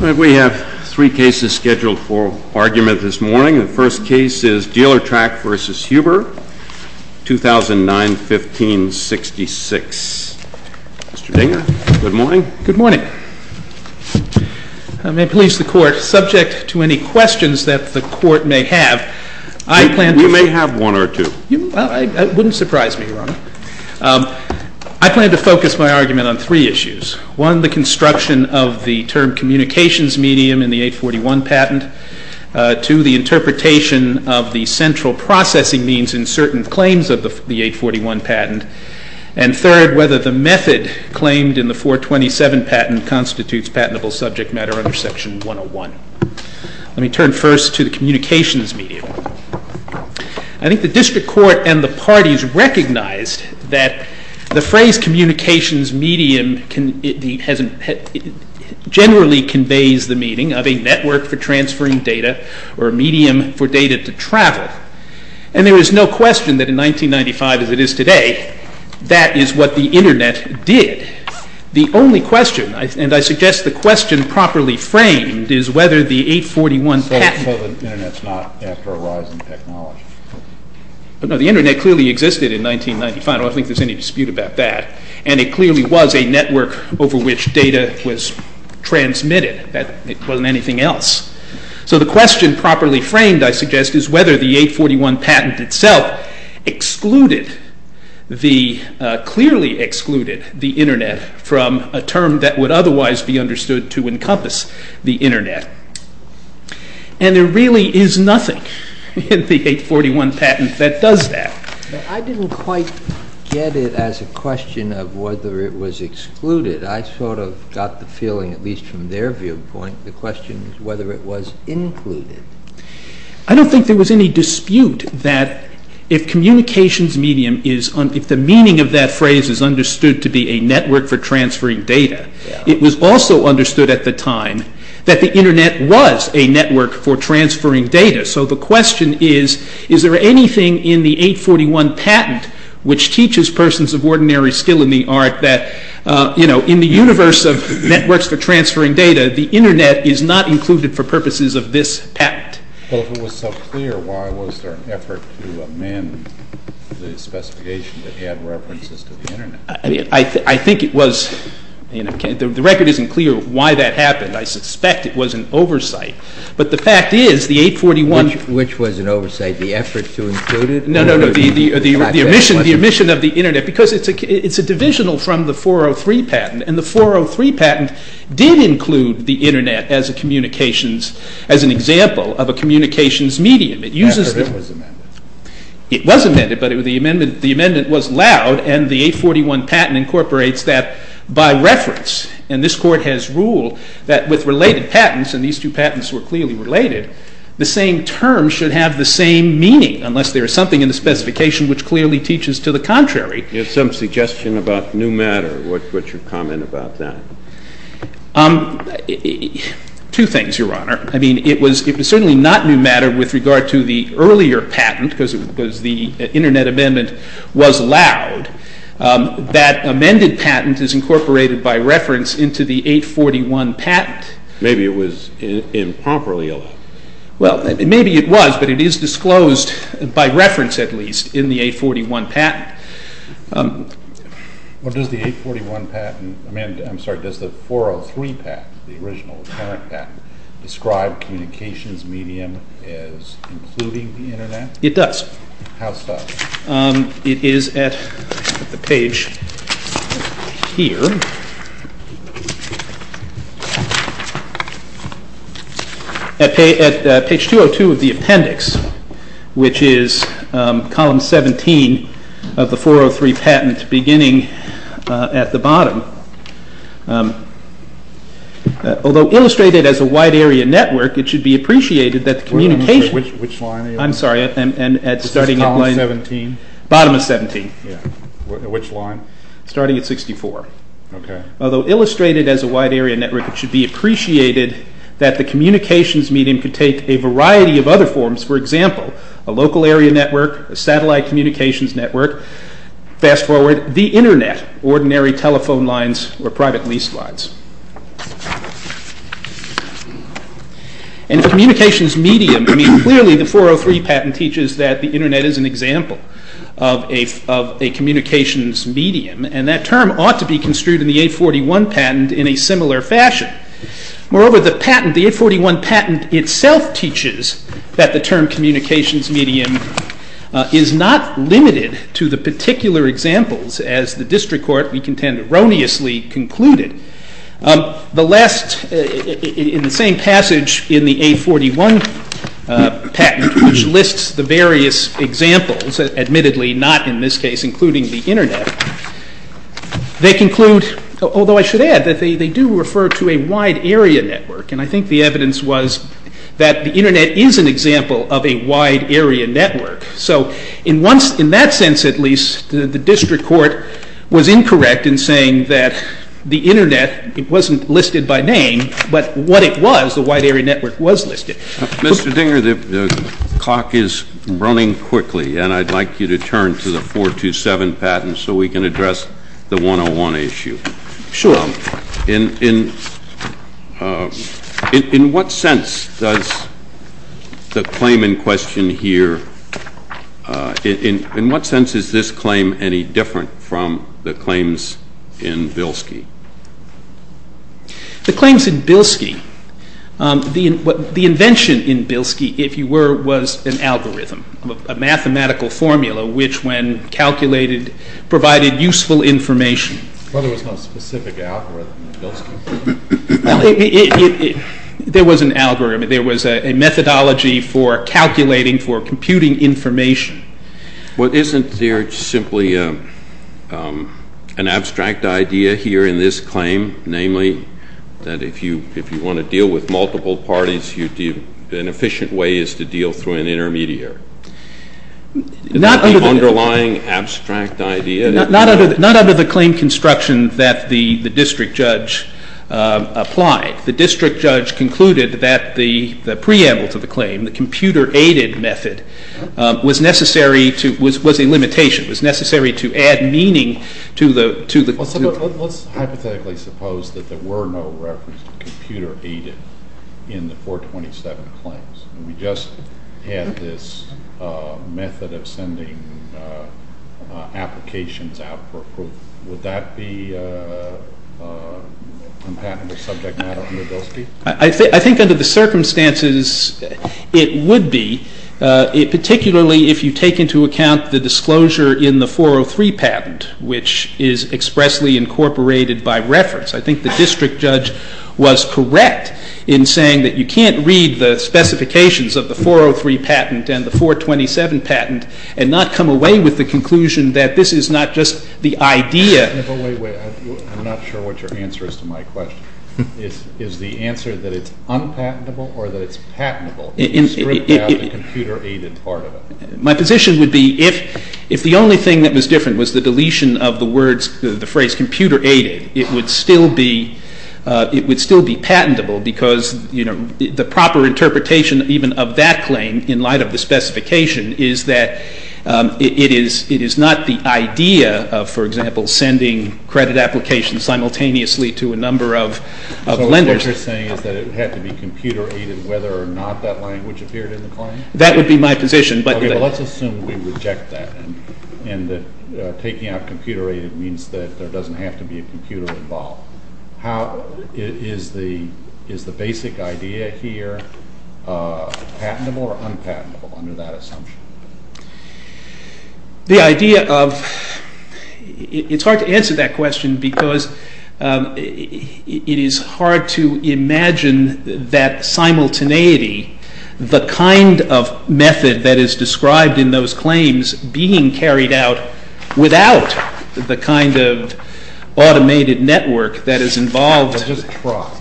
We have three cases scheduled for argument this morning. The first case is DEALERTRACK v. HUBER, 2009-15-66. Mr. Dinger, good morning. Good morning. I may please the Court. Subject to any questions that the Court may have, I plan to... You may have one or two. It wouldn't surprise me, Your Honor. I plan to focus my argument on three issues. One, the construction of the term communications medium in the 841 patent. Two, the interpretation of the central processing means in certain claims of the 841 patent. And third, whether the method claimed in the 427 patent constitutes patentable subject matter under Section 101. Let me turn first to the communications medium. I think the District Court and the parties recognized that the phrase communications medium generally conveys the meaning of a network for transferring data or a medium for data to travel. And there is no question that in 1995 as it is today, that is what the Internet did. The only question, and I suggest the question properly framed, is whether the 841 patent... So the Internet is not after a rise in technology? No, the Internet clearly existed in 1995. I don't think there is any dispute about that. And it clearly was a network over which data was transmitted. It wasn't anything else. So the question properly framed, I suggest, is whether the 841 patent itself excluded, clearly excluded the Internet from a term that would otherwise be understood to encompass the Internet. And there really is nothing in the 841 patent that does that. I didn't quite get it as a question of whether it was excluded. I sort of got the feeling, at least from their viewpoint, the question is whether it was included. I don't think there was any dispute that if the meaning of that phrase is understood to be a network for transferring data, it was also understood at the time that the Internet was a network for transferring data. So the question is, is there anything in the 841 patent which teaches persons of ordinary skill in the art that in the universe of networks for transferring data, the Internet is not included for purposes of this patent? Well, if it was so clear, why was there an effort to amend the specification to add references to the Internet? I think it was...the record isn't clear why that happened. I suspect it was an oversight. But the fact is, the 841... Which was an oversight, the effort to include it? No, no, no, the omission of the Internet, because it's a divisional from the 403 patent, and the 403 patent did include the Internet as a communications, as an example of a communications medium. It was amended. It was amended, but the amendment was loud, and the 841 patent incorporates that by reference. And this Court has ruled that with related patents, and these two patents were clearly related, the same term should have the same meaning, unless there is something in the specification which clearly teaches to the contrary. You have some suggestion about new matter. What's your comment about that? Two things, Your Honor. I mean, it was certainly not new matter with regard to the earlier patent, because the Internet amendment was loud. That amended patent is incorporated by reference into the 841 patent. Maybe it was improperly allowed. Well, maybe it was, but it is disclosed, by reference at least, in the 841 patent. Well, does the 841 patent, I mean, I'm sorry, does the 403 patent, the original, the current patent, describe communications medium as including the Internet? It does. How so? It is at the page here, at page 202 of the appendix, which is column 17 of the 403 patent, beginning at the bottom. Although illustrated as a wide area network, it should be appreciated that the communication… Which line are you on? I'm sorry. Is this column 17? Bottom of 17. Yeah. Which line? Starting at 64. Okay. Although illustrated as a wide area network, it should be appreciated that the communications medium could take a variety of other forms. For example, a local area network, a satellite communications network, fast forward, the Internet, ordinary telephone lines or private lease lines. And the communications medium, I mean, clearly the 403 patent teaches that the Internet is an example of a communications medium, and that term ought to be construed in the 841 patent in a similar fashion. Moreover, the patent, the 841 patent itself teaches that the term communications medium is not limited to the particular examples, as the district court, we contend, erroneously concluded. The last, in the same passage in the 841 patent, which lists the various examples, admittedly not in this case, including the Internet, they conclude, although I should add that they do refer to a wide area network, and I think the evidence was that the Internet is an example of a wide area network. So in that sense, at least, the district court was incorrect in saying that the Internet, it wasn't listed by name, but what it was, the wide area network, was listed. Mr. Dinger, the clock is running quickly, and I'd like you to turn to the 427 patent so we can address the 101 issue. Sure. In what sense does the claim in question here, in what sense is this claim any different from the claims in Bilski? The claims in Bilski, the invention in Bilski, if you were, was an algorithm, a mathematical formula which, when calculated, provided useful information. Well, there was no specific algorithm in Bilski. There was an algorithm. There was a methodology for calculating, for computing information. Well, isn't there simply an abstract idea here in this claim, namely, that if you want to deal with multiple parties, an efficient way is to deal through an intermediary? Not under the— Is that the underlying abstract idea? Not under the claim construction that the district judge applied. The district judge concluded that the preamble to the claim, the computer-aided method, was necessary to, was a limitation, was necessary to add meaning to the— Let's hypothetically suppose that there were no reference to computer-aided in the 427 claims. We just had this method of sending applications out for approval. Would that be a compatible subject matter for Bilski? I think under the circumstances, it would be, particularly if you take into account the disclosure in the 403 patent, which is expressly incorporated by reference. I think the district judge was correct in saying that you can't read the specifications of the 403 patent and the 427 patent and not come away with the conclusion that this is not just the idea— Wait, wait. I'm not sure what your answer is to my question. Is the answer that it's unpatentable or that it's patentable? You stripped out the computer-aided part of it. My position would be if the only thing that was different was the deletion of the words, the phrase computer-aided, it would still be patentable because the proper interpretation even of that claim in light of the specification is that it is not the idea of, for example, sending credit applications simultaneously to a number of lenders. So what you're saying is that it would have to be computer-aided whether or not that language appeared in the claim? That would be my position, but— How—is the basic idea here patentable or unpatentable under that assumption? The idea of—it's hard to answer that question because it is hard to imagine that simultaneity, the kind of method that is described in those claims being carried out without the kind of automated network that is involved— It's just fraud.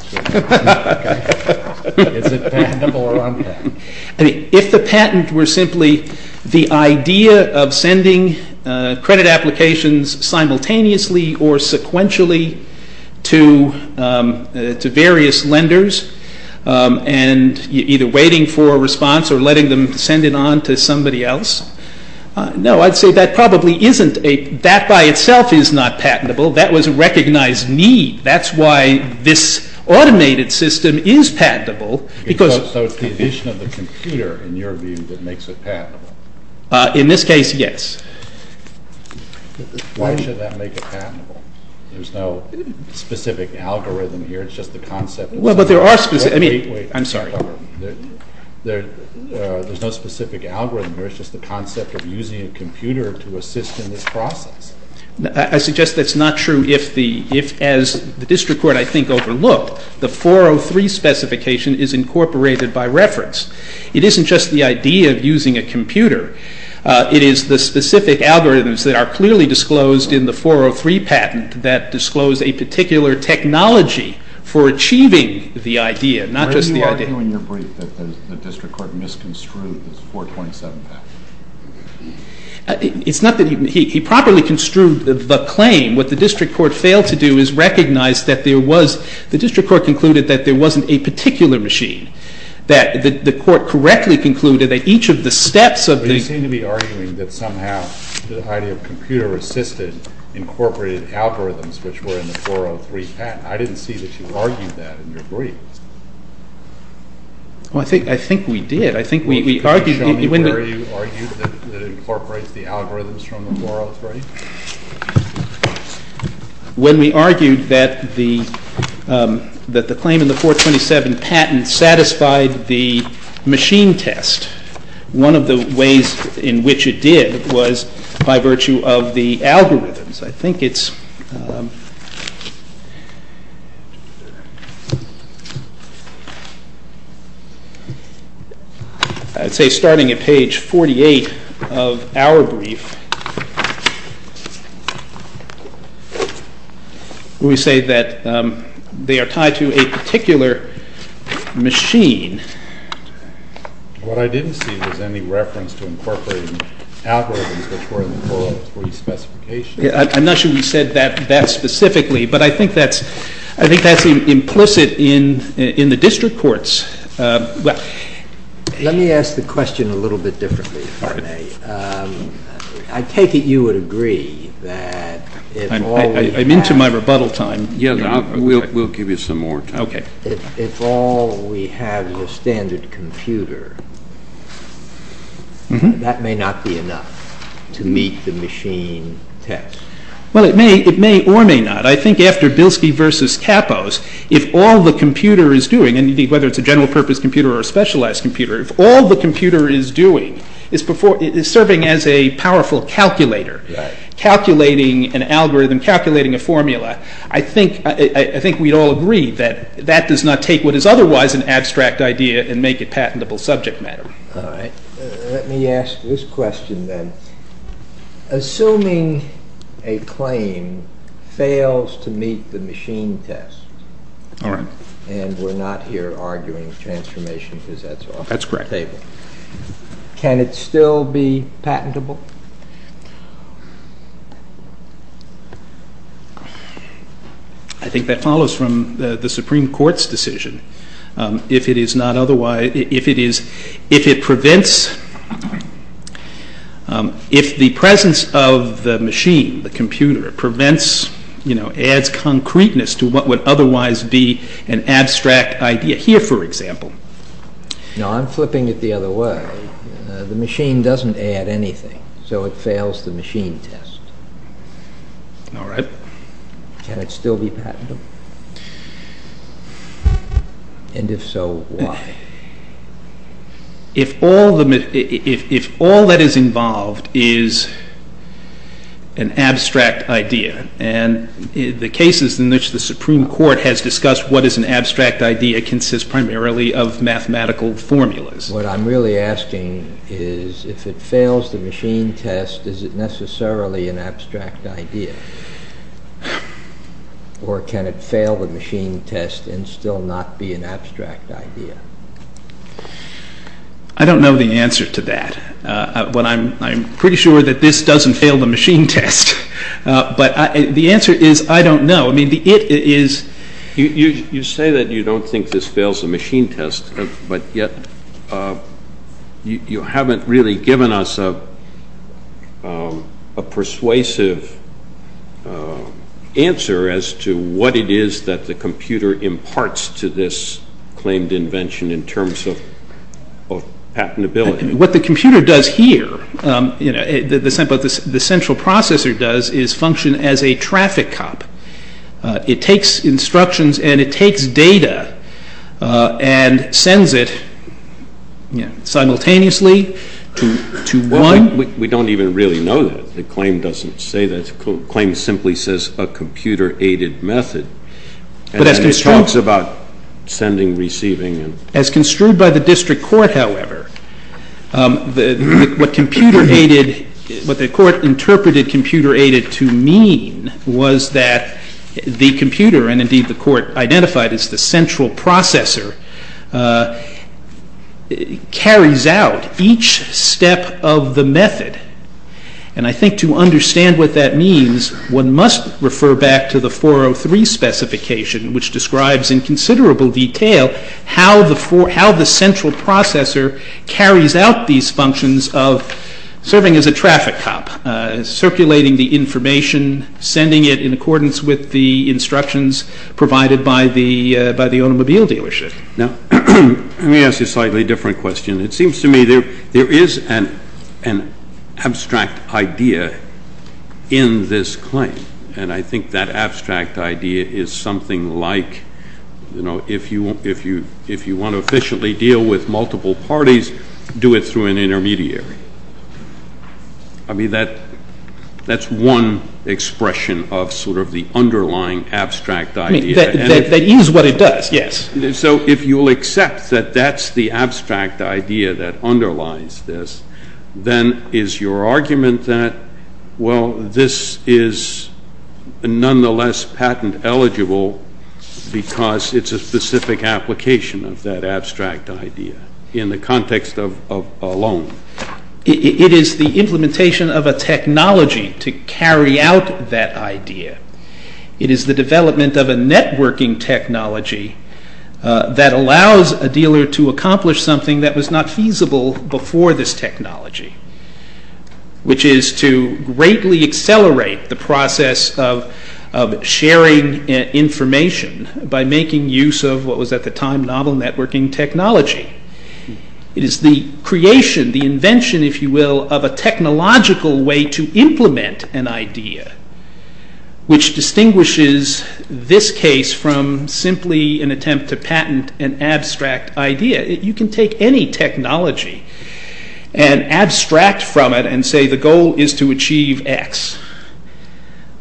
Is it patentable or unpatentable? If the patent were simply the idea of sending credit applications simultaneously or sequentially to various lenders and either waiting for a response or letting them send it on to somebody else, no, I'd say that probably isn't a—that by itself is not patentable. That was a recognized need. That's why this automated system is patentable because— So it's the addition of the computer, in your view, that makes it patentable? In this case, yes. Why should that make it patentable? There's no specific algorithm here. It's just the concept of— Well, but there are specific—I mean— Wait, wait. I'm sorry. There's no specific algorithm here. It's just the concept of using a computer to assist in this process. I suggest that's not true if, as the district court, I think, overlooked, the 403 specification is incorporated by reference. It isn't just the idea of using a computer. It is the specific algorithms that are clearly disclosed in the 403 patent that disclose a particular technology for achieving the idea, not just the idea. Are you arguing in your brief that the district court misconstrued this 427 patent? It's not that—he properly construed the claim. What the district court failed to do is recognize that there was— the district court concluded that there wasn't a particular machine, that the court correctly concluded that each of the steps of the— But you seem to be arguing that somehow the idea of computer-assisted incorporated algorithms, which were in the 403 patent. I didn't see that you argued that in your brief. Well, I think we did. I think we argued— Can you show me where you argued that it incorporates the algorithms from the 403? When we argued that the claim in the 427 patent satisfied the machine test, one of the ways in which it did was by virtue of the algorithms. I think it's—I'd say starting at page 48 of our brief, we say that they are tied to a particular machine. What I didn't see was any reference to incorporating algorithms which were in the 403 specification. I'm not sure we said that specifically, but I think that's implicit in the district courts. Let me ask the question a little bit differently, if I may. I take it you would agree that if all we have— I'm into my rebuttal time. We'll give you some more time. Okay. If all we have is a standard computer, that may not be enough to meet the machine test. Well, it may or may not. I think after Bilski v. Kapos, if all the computer is doing, and whether it's a general-purpose computer or a specialized computer, if all the computer is doing is serving as a powerful calculator, calculating an algorithm, calculating a formula, I think we'd all agree that that does not take what is otherwise an abstract idea and make it patentable subject matter. All right. Let me ask this question then. Assuming a claim fails to meet the machine test, and we're not here arguing transformation because that's off the table, can it still be patentable? I think that follows from the Supreme Court's decision. If it is not otherwise—if it prevents— if the presence of the machine, the computer, prevents—adds concreteness to what would otherwise be an abstract idea. Here, for example— No, I'm flipping it the other way. The machine doesn't add anything, so it fails the machine test. All right. Can it still be patentable? And if so, why? If all that is involved is an abstract idea, and the cases in which the Supreme Court has discussed what is an abstract idea consist primarily of mathematical formulas. What I'm really asking is if it fails the machine test, is it necessarily an abstract idea? Or can it fail the machine test and still not be an abstract idea? I don't know the answer to that. I'm pretty sure that this doesn't fail the machine test. But the answer is I don't know. I mean, the it is— You say that you don't think this fails the machine test, but yet you haven't really given us a persuasive answer as to what it is that the computer imparts to this claimed invention in terms of patentability. What the computer does here, what the central processor does is function as a traffic cop. It takes instructions and it takes data and sends it simultaneously to one. We don't even really know that. The claim doesn't say that. The claim simply says a computer-aided method. And then it talks about sending, receiving. As construed by the district court, however, what the court interpreted computer-aided to mean was that the computer, and indeed the court identified as the central processor, carries out each step of the method. And I think to understand what that means, one must refer back to the 403 specification, which describes in considerable detail how the central processor carries out these functions of serving as a traffic cop, circulating the information, sending it in accordance with the instructions provided by the automobile dealership. Let me ask you a slightly different question. It seems to me there is an abstract idea in this claim, and I think that abstract idea is something like if you want to efficiently deal with multiple parties, do it through an intermediary. I mean, that's one expression of sort of the underlying abstract idea. That is what it does, yes. So if you'll accept that that's the abstract idea that underlies this, then is your argument that, well, this is nonetheless patent eligible because it's a specific application of that abstract idea in the context of a loan? It is the implementation of a technology to carry out that idea. It is the development of a networking technology that allows a dealer to accomplish something that was not feasible before this technology, which is to greatly accelerate the process of sharing information by making use of what was at the time novel networking technology. It is the creation, the invention, if you will, of a technological way to implement an idea which distinguishes this case from simply an attempt to patent an abstract idea. You can take any technology and abstract from it and say the goal is to achieve X.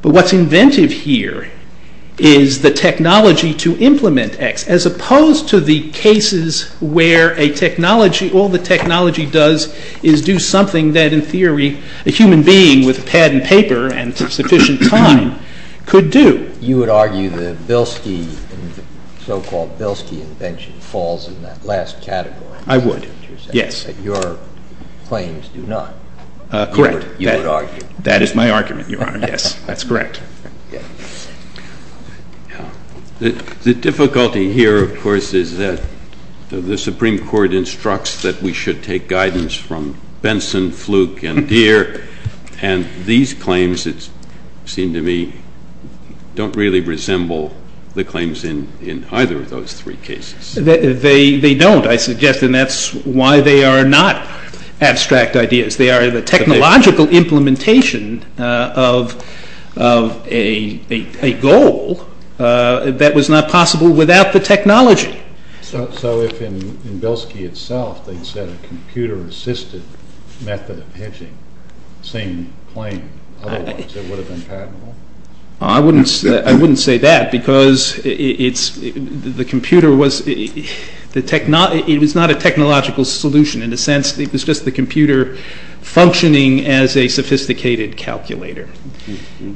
But what's inventive here is the technology to implement X, as opposed to the cases where a technology, all the technology does is do something that in theory a human being with a pad and paper and sufficient time could do. You would argue that Bilski, the so-called Bilski invention, falls in that last category. I would, yes. That your claims do not. Correct. You would argue. That is my argument, Your Honor, yes. That's correct. The difficulty here, of course, is that the Supreme Court instructs that we should take guidance from Benson, Fluke, and Deere, and these claims, it seems to me, don't really resemble the claims in either of those three cases. They don't, I suggest, and that's why they are not abstract ideas. They are the technological implementation of a goal that was not possible without the technology. So if in Bilski itself they said a computer-assisted method of hedging, same claim otherwise, it would have been patentable? I wouldn't say that because the computer was, it was not a technological solution. In a sense, it was just the computer functioning as a sophisticated calculator.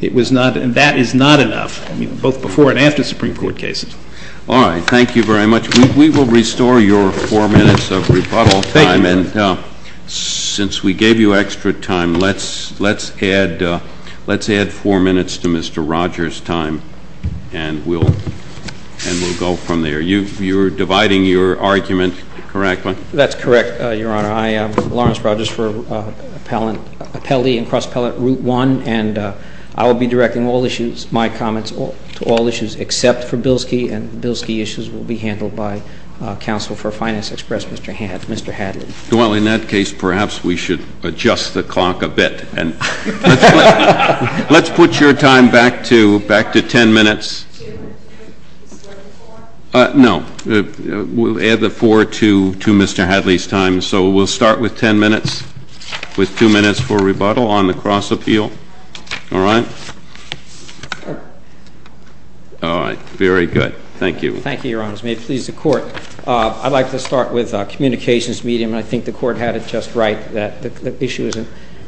It was not, and that is not enough, both before and after Supreme Court cases. All right. Thank you very much. We will restore your four minutes of rebuttal time, and since we gave you extra time, let's add four minutes to Mr. Rogers' time, and we'll go from there. You're dividing your argument correctly? That's correct, Your Honor. I am Lawrence Rogers for Appellee and Cross-Appellate Route 1, and I will be directing my comments to all issues except for Bilski, and the Bilski issues will be handled by counsel for Finance Express, Mr. Hadley. Well, in that case, perhaps we should adjust the clock a bit, and let's put your time back to 10 minutes. No, we'll add the four to Mr. Hadley's time, so we'll start with 10 minutes, with two minutes for rebuttal on the cross-appeal. All right? All right. Very good. Thank you. Thank you, Your Honors. May it please the Court. I'd like to start with communications medium, and I think the Court had it just right that the issue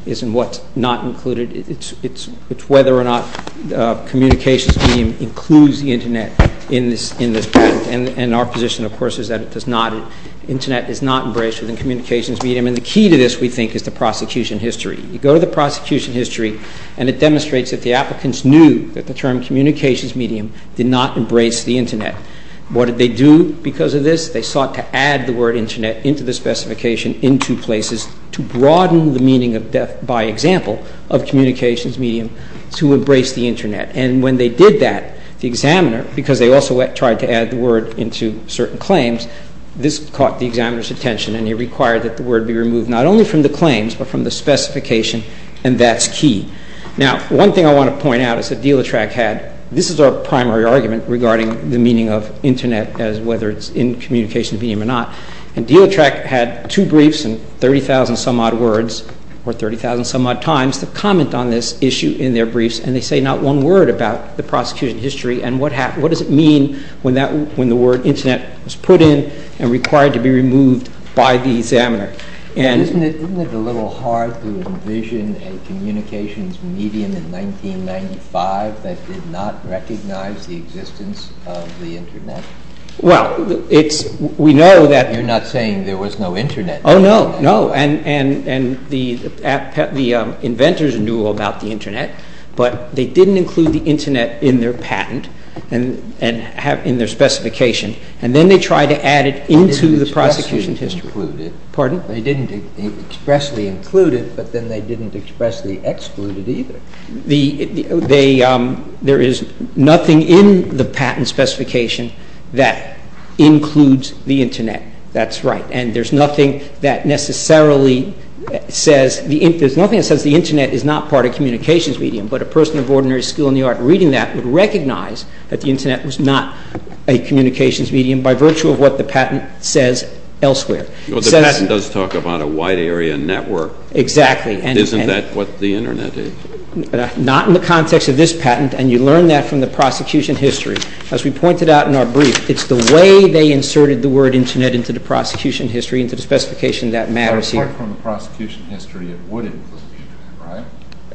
isn't what's not included. It's whether or not communications medium includes the Internet in this case, and our position, of course, is that it does not. Internet is not embraced within communications medium, and the key to this, we think, is the prosecution history. You go to the prosecution history, and it demonstrates that the applicants knew that the term communications medium did not embrace the Internet. What did they do because of this? They sought to add the word Internet into the specification in two places to broaden the meaning by example of communications medium to embrace the Internet, and when they did that, the examiner, because they also tried to add the word into certain claims, this caught the examiner's attention, and he required that the word be removed not only from the claims but from the specification, and that's key. Now, one thing I want to point out is that Delatrach had, this is our primary argument regarding the meaning of Internet as whether it's in communications medium or not, and Delatrach had two briefs and 30,000-some-odd words or 30,000-some-odd times to comment on this issue in their briefs, and they say not one word about the prosecution history and what happened. What did it mean when the word Internet was put in and required to be removed by the examiner? Isn't it a little hard to envision a communications medium in 1995 that did not recognize the existence of the Internet? Well, we know that... You're not saying there was no Internet. Oh, no, no, and the inventors knew about the Internet, but they didn't include the Internet in their patent, in their specification, and then they tried to add it into the prosecution history. They didn't expressly include it. Pardon? They didn't expressly include it, but then they didn't expressly exclude it either. There is nothing in the patent specification that includes the Internet. That's right, and there's nothing that necessarily says... There's nothing that says the Internet is not part of communications medium, but a person of ordinary skill in the art reading that would recognize that the Internet was not a communications medium by virtue of what the patent says elsewhere. Well, the patent does talk about a wide area network. Exactly. Isn't that what the Internet is? Not in the context of this patent, and you learn that from the prosecution history. As we pointed out in our brief, it's the way they inserted the word Internet into the prosecution history, into the specification that matters here. Apart from the prosecution history, it would include the Internet, right?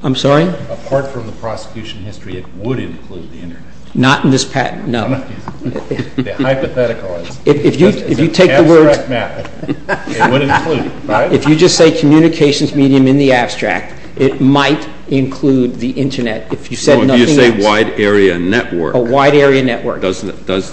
I'm sorry? Apart from the prosecution history, it would include the Internet. Not in this patent, no. The hypothetical is. If you take the word... It's an abstract matter. It would include it, right? If you just say communications medium in the abstract, it might include the Internet, if you said nothing else. No, if you say wide area network. A wide area network. Does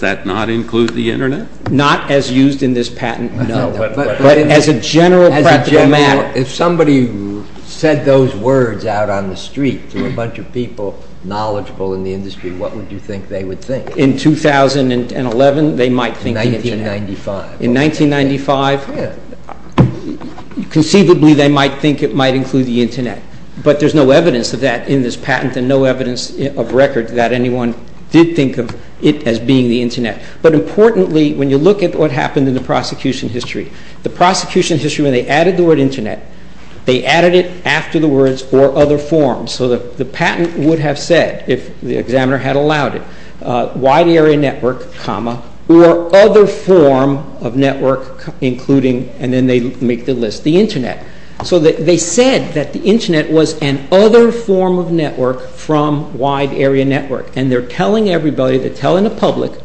that not include the Internet? Not as used in this patent, no. But as a general practical matter... If somebody said those words out on the street to a bunch of people knowledgeable in the industry, what would you think they would think? In 2011, they might think the Internet. 1995. In 1995, conceivably, they might think it might include the Internet. But there's no evidence of that in this patent and no evidence of record that anyone did think of it as being the Internet. But importantly, when you look at what happened in the prosecution history, the prosecution history, when they added the word Internet, they added it after the words or other forms. So the patent would have said, if the examiner had allowed it, wide area network, comma, or other form of network, including... And then they make the list. The Internet. So they said that the Internet was an other form of network from wide area network. And they're telling everybody, they're telling the public,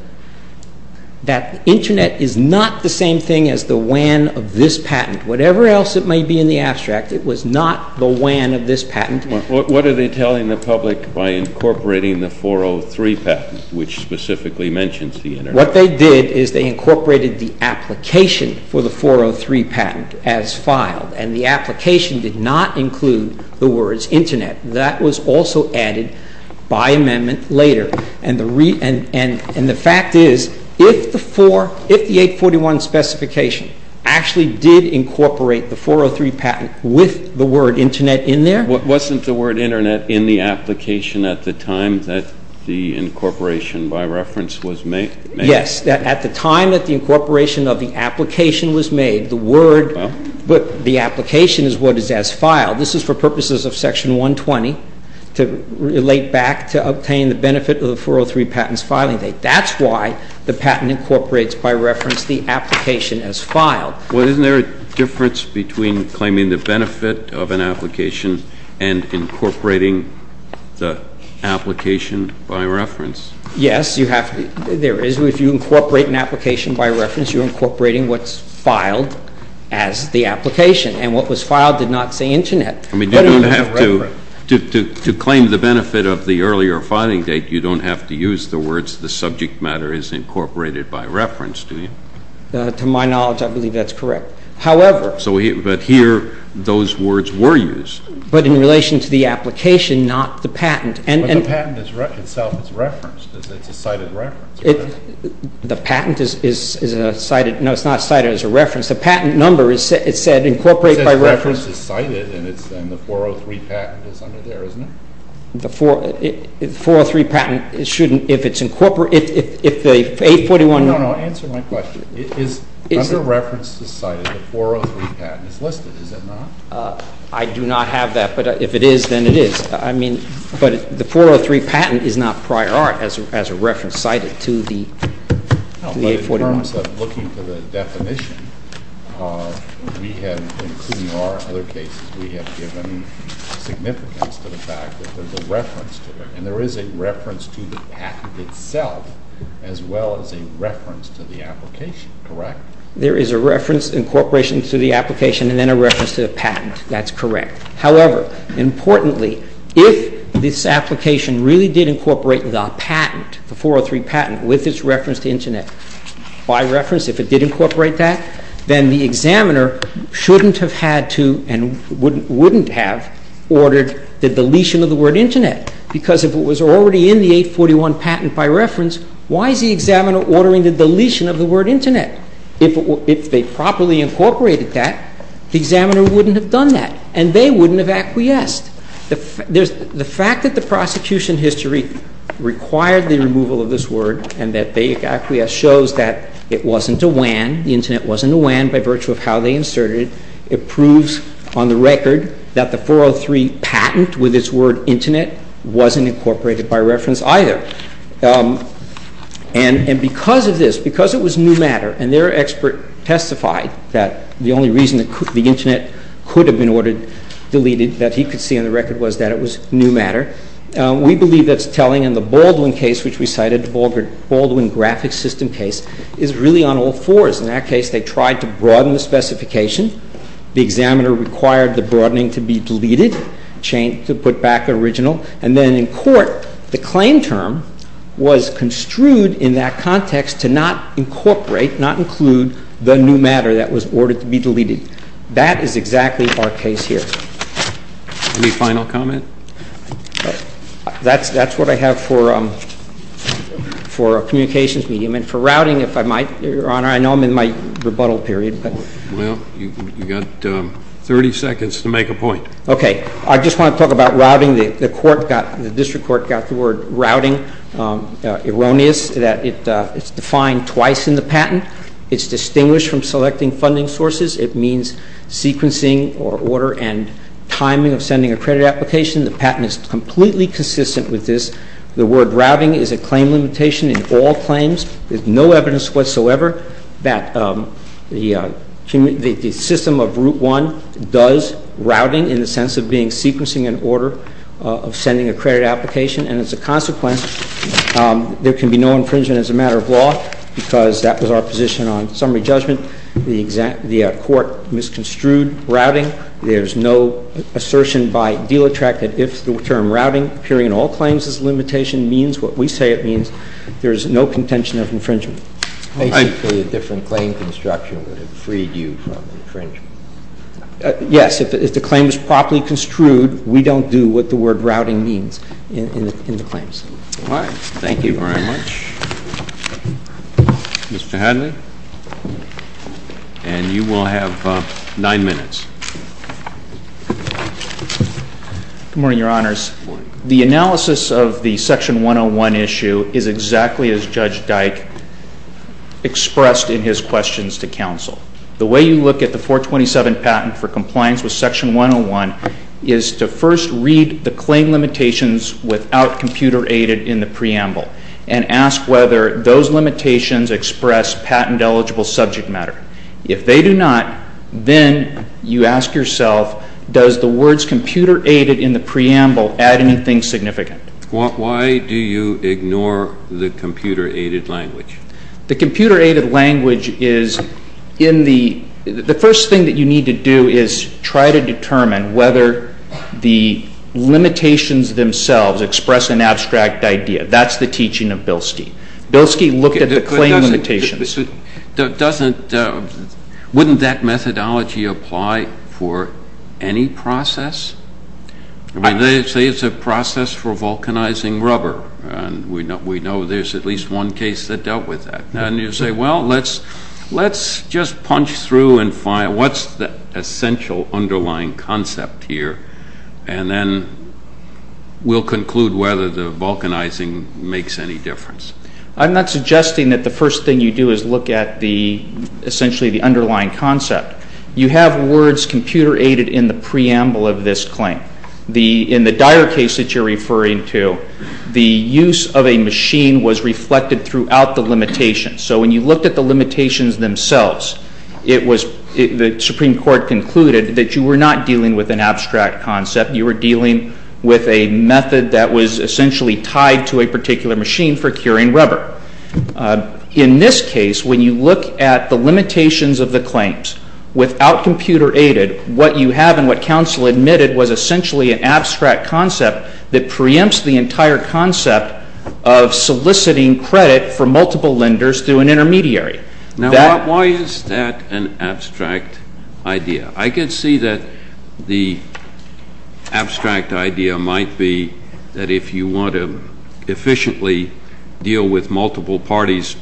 that the Internet is not the same thing as the WAN of this patent. Whatever else it may be in the abstract, it was not the WAN of this patent. What are they telling the public by incorporating the 403 patent, which specifically mentions the Internet? What they did is they incorporated the application for the 403 patent as filed. And the application did not include the words Internet. That was also added by amendment later. And the fact is, if the 841 specification actually did incorporate the 403 patent with the word Internet in there... But wasn't the word Internet in the application at the time that the incorporation by reference was made? Yes. At the time that the incorporation of the application was made, the word... But the application is what is as filed. This is for purposes of Section 120 to relate back to obtain the benefit of the 403 patent's filing date. That's why the patent incorporates by reference the application as filed. Well, isn't there a difference between claiming the benefit of an application and incorporating the application by reference? Yes, you have to... There is. If you incorporate an application by reference, you're incorporating what's filed as the application. And what was filed did not say Internet. I mean, you don't have to... To claim the benefit of the earlier filing date, you don't have to use the words the subject matter is incorporated by reference, do you? To my knowledge, I believe that's correct. However... But here, those words were used. But in relation to the application, not the patent. But the patent itself is referenced. It's a cited reference, right? The patent is cited... No, it's not cited as a reference. The patent number is said incorporate by reference... It says reference is cited, and the 403 patent is under there, isn't it? The 403 patent shouldn't... If it's incorporated... If the 841... No, no. Answer my question. Under reference is cited, the 403 patent is listed, is it not? I do not have that. But if it is, then it is. I mean... But the 403 patent is not prior art as a reference cited to the 841. No, but in terms of looking for the definition, we have, including our other cases, we have given significance to the fact that there's a reference to it. And there is a reference to the patent itself as well as a reference to the application, correct? There is a reference, incorporation to the application, and then a reference to the patent. That's correct. However, importantly, if this application really did incorporate the patent, the 403 patent, with its reference to Internet by reference, if it did incorporate that, then the examiner shouldn't have had to and wouldn't have ordered the deletion of the word Internet. Because if it was already in the 841 patent by reference, why is the examiner ordering the deletion of the word Internet? If they properly incorporated that, the examiner wouldn't have done that and they wouldn't have acquiesced. The fact that the prosecution history required the removal of this word and that they acquiesced shows that it wasn't a WAN, the Internet wasn't a WAN by virtue of how they inserted it. It proves on the record that the 403 patent with its word Internet wasn't incorporated by reference either. And because of this, because it was new matter and their expert testified that the only reason the Internet could have been ordered, deleted, that he could see on the record was that it was new matter, we believe that's telling. And the Baldwin case, which we cited, the Baldwin graphic system case, is really on all fours. In that case, they tried to broaden the specification. The examiner required the broadening to be deleted, to put back the original. And then in court, the claim term was construed in that context to not incorporate, not include the new matter that was ordered to be deleted. That is exactly our case here. Any final comment? That's what I have for a communications medium. And for routing, if I might, Your Honor, I know I'm in my rebuttal period. Well, you've got 30 seconds to make a point. Okay. I just want to talk about routing. The court got, the district court got the word routing erroneous that it's defined twice in the patent. It's distinguished from selecting funding sources. It means sequencing or order and timing of sending a credit application. The patent is completely consistent with this. The word routing is a claim limitation in all claims. There's no evidence whatsoever that the system of Route 1 does routing in the sense of being sequencing in order of sending a credit application. And as a consequence, there can be no infringement as a matter of law because that was our position on summary judgment. The court misconstrued routing. There's no assertion by deal attract that if the term routing appearing in all claims is a limitation means what we say it means. There's no contention of infringement. Basically, a different claim construction would have freed you from infringement. Yes. If the claim is properly construed, we don't do what the word routing means in the claims. All right. Thank you very much. Mr. Hadley. And you will have nine minutes. Good morning, Your Honors. Good morning. The analysis of the Section 101 issue is exactly as Judge Dyke expressed in his questions to counsel. The way you look at the 427 patent for compliance with Section 101 is to first read the claim limitations without computer-aided in the preamble and ask whether those limitations express patent-eligible subject matter. If they do not, then you ask yourself, does the words computer-aided in the preamble add anything significant? Why do you ignore the computer-aided language? The computer-aided language is in the... The first thing that you need to do is try to determine whether the limitations themselves express an abstract idea. That's the teaching of Bilski. Bilski looked at the claim limitations. Doesn't... Wouldn't that methodology apply for any process? They say it's a process for vulcanizing rubber, and we know there's at least one case that dealt with that. And you say, well, let's just punch through and find what's the essential underlying concept here, and then we'll conclude whether the vulcanizing makes any difference. I'm not suggesting that the first thing you do is look at the... essentially the underlying concept. You have words computer-aided in the preamble of this claim. In the dire case that you're referring to, the use of a machine was reflected throughout the limitations. So when you looked at the limitations themselves, it was... The Supreme Court concluded that you were not dealing with an abstract concept. You were dealing with a method that was essentially tied to a particular machine for curing rubber. In this case, when you look at the limitations of the claims, without computer-aided, what you have and what counsel admitted was essentially an abstract concept that preempts the entire concept of soliciting credit for multiple lenders through an intermediary. Now, why is that an abstract idea? I can see that the abstract idea might be that if you want to efficiently deal with multiple parties,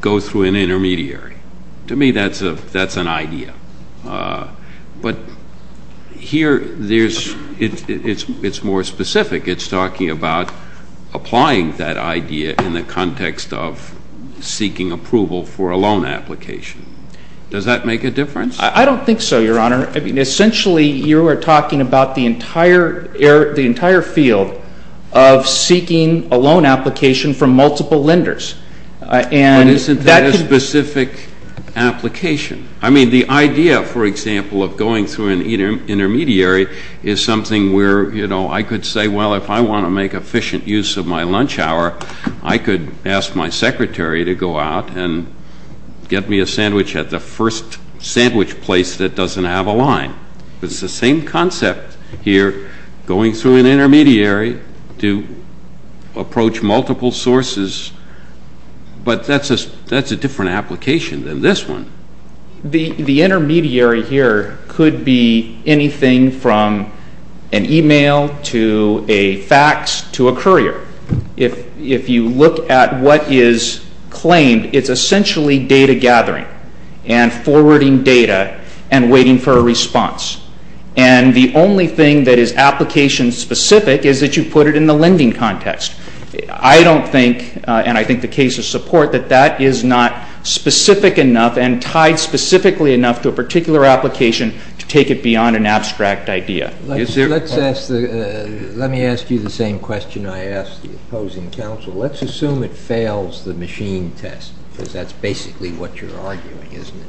go through an intermediary. To me, that's an idea. But here, it's more specific. It's talking about applying that idea in the context of seeking approval for a loan application. Does that make a difference? I don't think so, Your Honor. Essentially, you are talking about the entire field of seeking a loan application from multiple lenders. But isn't that a specific application? I mean, the idea, for example, of going through an intermediary is something where I could say, well, if I want to make efficient use of my lunch hour, I could ask my secretary to go out and get me a sandwich at the first sandwich place that doesn't have a line. It's the same concept here, going through an intermediary to approach multiple sources. But that's a different application than this one. The intermediary here could be anything from an email to a fax to a courier. If you look at what is claimed, it's essentially data gathering and forwarding data and waiting for a response. And the only thing that is application-specific is that you put it in the lending context. I don't think, and I think the case of support, that that is not specific enough and tied specifically enough to a particular application to take it beyond an abstract idea. Let me ask you the same question I asked the opposing counsel. Let's assume it fails the machine test, because that's basically what you're arguing, isn't it?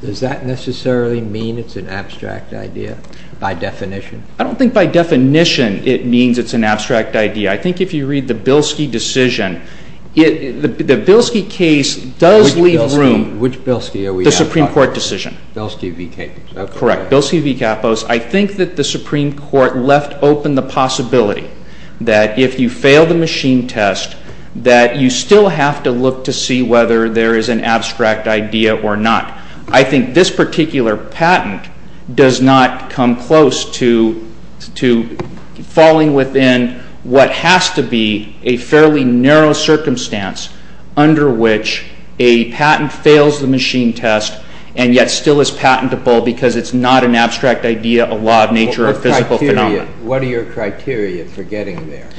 Does that necessarily mean it's an abstract idea by definition? I don't think by definition it means it's an abstract idea. I think if you read the Bilski decision, the Bilski case does leave room. Which Bilski? The Supreme Court decision. Bilski v. Capos. Correct. Bilski v. Capos. I think that the Supreme Court left open the possibility that if you fail the machine test, that you still have to look to see whether there is an abstract idea or not. I think this particular patent does not come close to falling within what has to be a fairly narrow circumstance under which a patent fails the machine test and yet still is patentable because it's not an abstract idea, a law of nature, or a physical phenomenon. What are your criteria for getting there?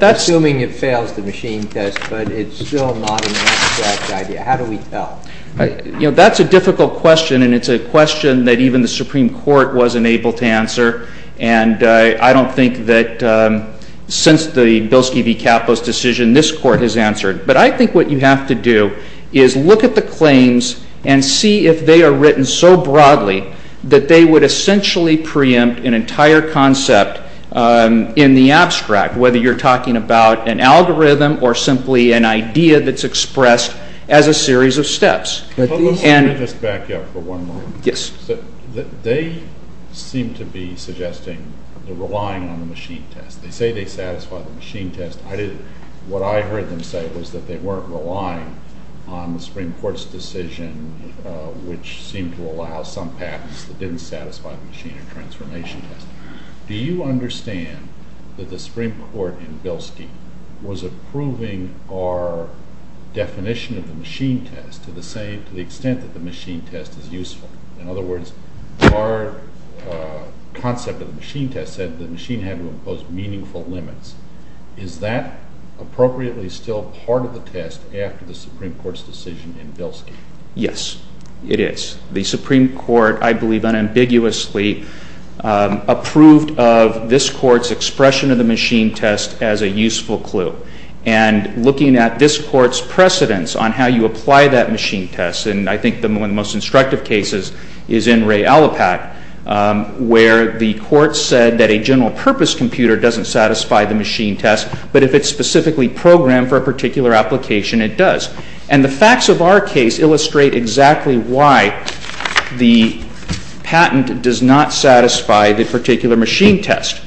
Assuming it fails the machine test, but it's still not an abstract idea. How do we tell? That's a difficult question and it's a question that even the Supreme Court wasn't able to answer. And I don't think that since the Bilski v. Capos decision, this Court has answered. But I think what you have to do is look at the claims and see if they are written so broadly that they would essentially preempt an entire concept in the abstract, whether you're talking about an algorithm or simply an idea that's expressed as a series of steps. Let me just back you up for one moment. Yes. They seem to be suggesting they're relying on the machine test. They say they satisfy the machine test. What I heard them say was that they weren't relying on the Supreme Court's decision which seemed to allow some patents that didn't satisfy the machine or transformation test. Do you understand that the Supreme Court in Bilski was approving our definition of the machine test to the extent that the machine test is useful? In other words, our concept of the machine test said the machine had to impose meaningful limits. Is that appropriately still part of the test after the Supreme Court's decision in Bilski? Yes, it is. The Supreme Court, I believe unambiguously, approved of this Court's expression of the machine test as a useful clue. And looking at this Court's precedence on how you apply that machine test, and I think one of the most instructive cases is in Ray Allipat, where the Court said that a general purpose computer doesn't satisfy the machine test, but if it's specifically programmed for a particular application, it does. And the facts of our case illustrate exactly why the patent does not satisfy the particular machine test.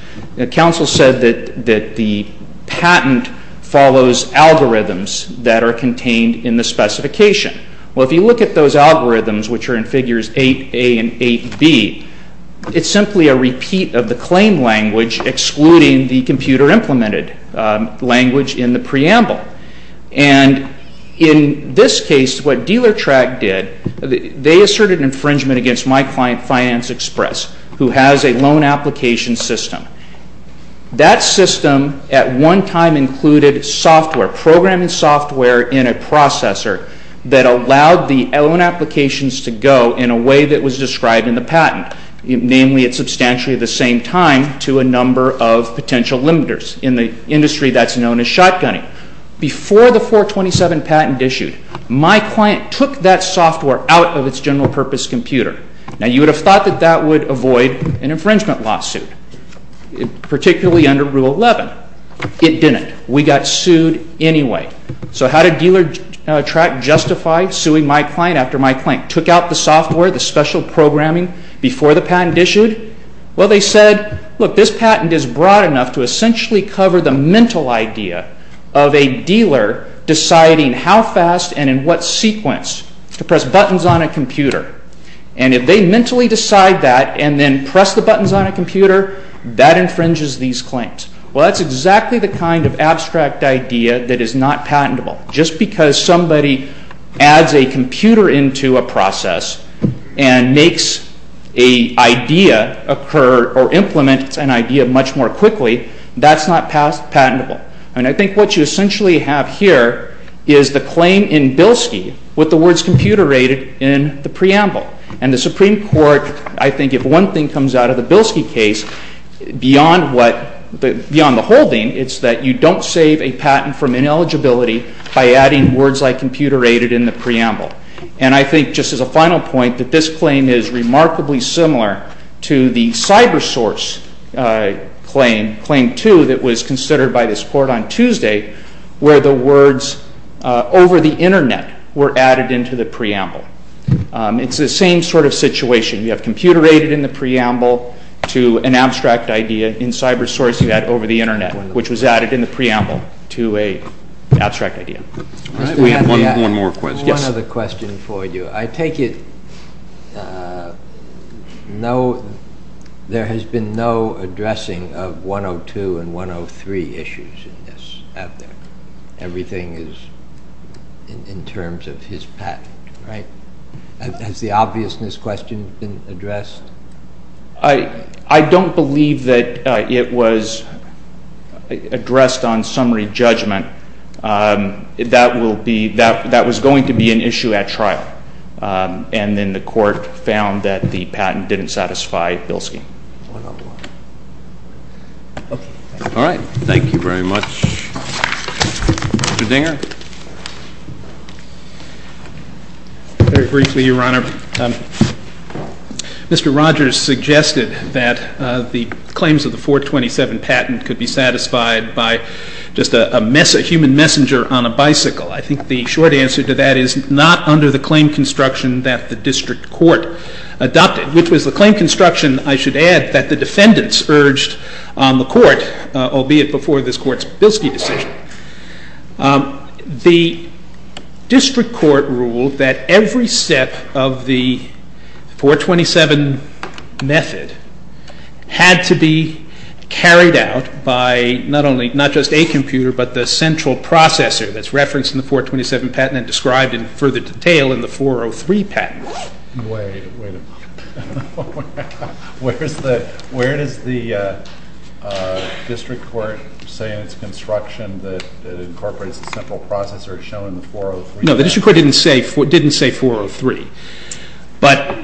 Council said that the patent follows algorithms that are contained in the specification. Well, if you look at those algorithms, which are in Figures 8a and 8b, it's simply a repeat of the claim language excluding the computer-implemented language in the preamble. And in this case, what DealerTrack did, they asserted infringement against my client, Finance Express, who has a loan application system. That system at one time included software, programming software in a processor that allowed the loan applications to go in a way that was described in the patent, namely, it's substantially the same time to a number of potential limiters in the industry that's known as shotgunning. Before the 427 patent issued, my client took that software out of its general purpose computer. Now, you would have thought that that would avoid an infringement lawsuit, particularly under Rule 11. It didn't. We got sued anyway. So how did DealerTrack justify suing my client after my client took out the software, the special programming, before the patent issued? Well, they said, look, this patent is broad enough to essentially cover the mental idea of a dealer deciding how fast and in what sequence to press buttons on a computer. And if they mentally decide that and then press the buttons on a computer, that infringes these claims. Well, that's exactly the kind of abstract idea that is not patentable. Just because somebody adds a computer into a process and makes an idea occur or implements an idea much more quickly, that's not patentable. And I think what you essentially have here is the claim in Bilski with the words computer-aided in the preamble. And the Supreme Court, I think if one thing comes out of the Bilski case, beyond the holding, it's that you don't save a patent from ineligibility by adding words like computer-aided in the preamble. And I think, just as a final point, that this claim is remarkably similar to the CyberSource claim, Claim 2, that was considered by this Court on Tuesday, where the words over the Internet were added into the preamble. It's the same sort of situation. You have computer-aided in the preamble to an abstract idea in CyberSource you had over the Internet, which was added in the preamble to an abstract idea. We have one more question. One other question for you. I take it there has been no addressing of 102 and 103 issues in this out there. Everything is in terms of his patent, right? Has the obviousness question been addressed? I don't believe that it was addressed on summary judgment. That was going to be an issue at trial. And then the Court found that the patent didn't satisfy Bilski. All right. Thank you very much. Mr. Dinger. Very briefly, Your Honor. Mr. Rogers suggested that the claims of the 427 patent could be satisfied by just a human messenger on a bicycle. I think the short answer to that is not under the claim construction that the District Court adopted, which was the claim construction, I should add, that the defendants urged on the Court, albeit before this Court's Bilski decision. The District Court ruled that every step of the 427 method had to be carried out by not just a computer, but the central processor that's referenced in the 427 patent and described in further detail in the 403 patent. Wait a minute. Where does the District Court say in its construction that incorporates the central processor shown in the 403 patent? No, the District Court didn't say 403. But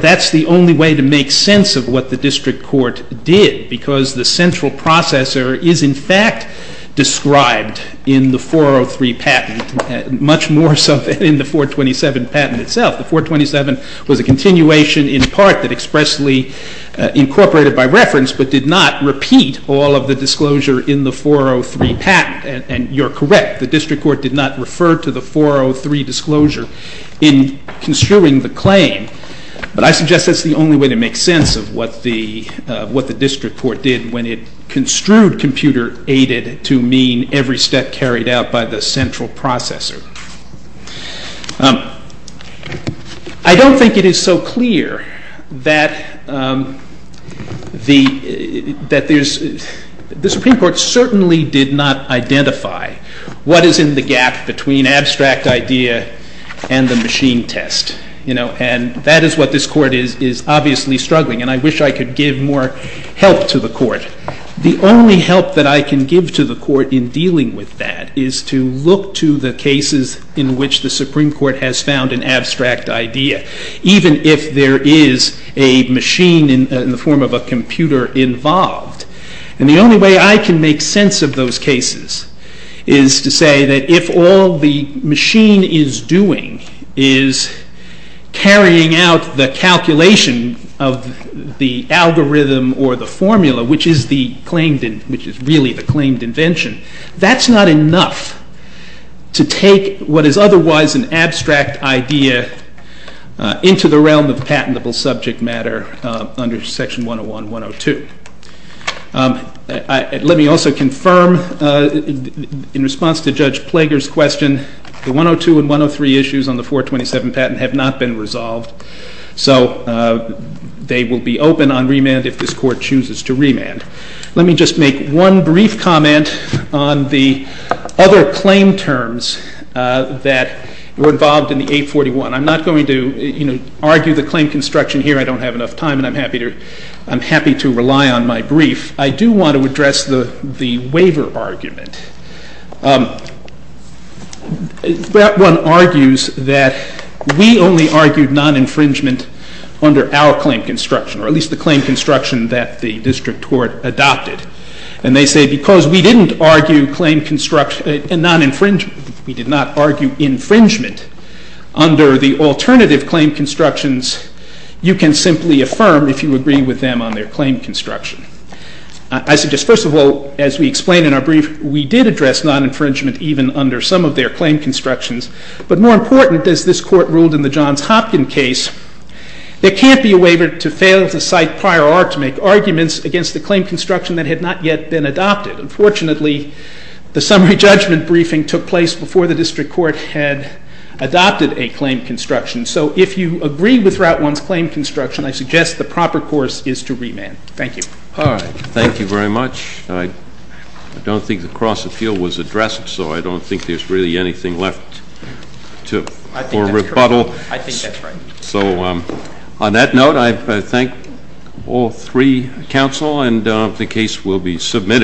that's the only way to make sense of what the District Court did because the central processor is in fact described in the 403 patent, much more so than in the 427 patent itself. The 427 was a continuation in part that expressly incorporated by reference, but did not repeat all of the disclosure in the 403 patent. And you're correct. The District Court did not refer to the 403 disclosure in construing the claim. But I suggest that's the only way to make sense of what the District Court did when it construed computer-aided to mean every step carried out by the central processor. I don't think it is so clear that the Supreme Court certainly did not identify what is in the gap between abstract idea and the machine test. And that is what this Court is obviously struggling. And I wish I could give more help to the Court. The only help that I can give to the Court in dealing with that is to look to the cases in which the Supreme Court has found an abstract idea, even if there is a machine in the form of a computer involved. And the only way I can make sense of those cases is to say that if all the machine is doing is carrying out the calculation of the algorithm or the formula, which is really the claimed invention, that's not enough to take what is otherwise an abstract idea into the realm of patentable subject matter under Section 101.102. Let me also confirm in response to Judge Plager's question, the 102 and 103 issues on the 427 patent have not been resolved. So they will be open on remand if this Court chooses to remand. Let me just make one brief comment on the other claim terms that were involved in the 841. I'm not going to argue the claim construction here. I don't have enough time and I'm happy to rely on my brief. I do want to address the waiver argument. That one argues that we only argued non-infringement under our claim construction, or at least the claim construction that the District Court adopted. And they say because we didn't argue non-infringement, we did not argue infringement, under the alternative claim constructions, you can simply affirm if you agree with them on their claim construction. I suggest, first of all, as we explained in our brief, we did address non-infringement even under some of their claim constructions. But more important, as this Court ruled in the Johns Hopkins case, there can't be a waiver to fail to cite prior art to make arguments against the claim construction that had not yet been adopted. Unfortunately, the summary judgment briefing took place before the District Court had adopted a claim construction. So if you agree with Route 1's claim construction, I suggest the proper course is to remand. Thank you. All right. Thank you very much. I don't think the cross-appeal so I don't think there's really anything left for rebuttal. I think that's correct. I think that's right. So on that note, I thank all three counsel, and the case will be submitted.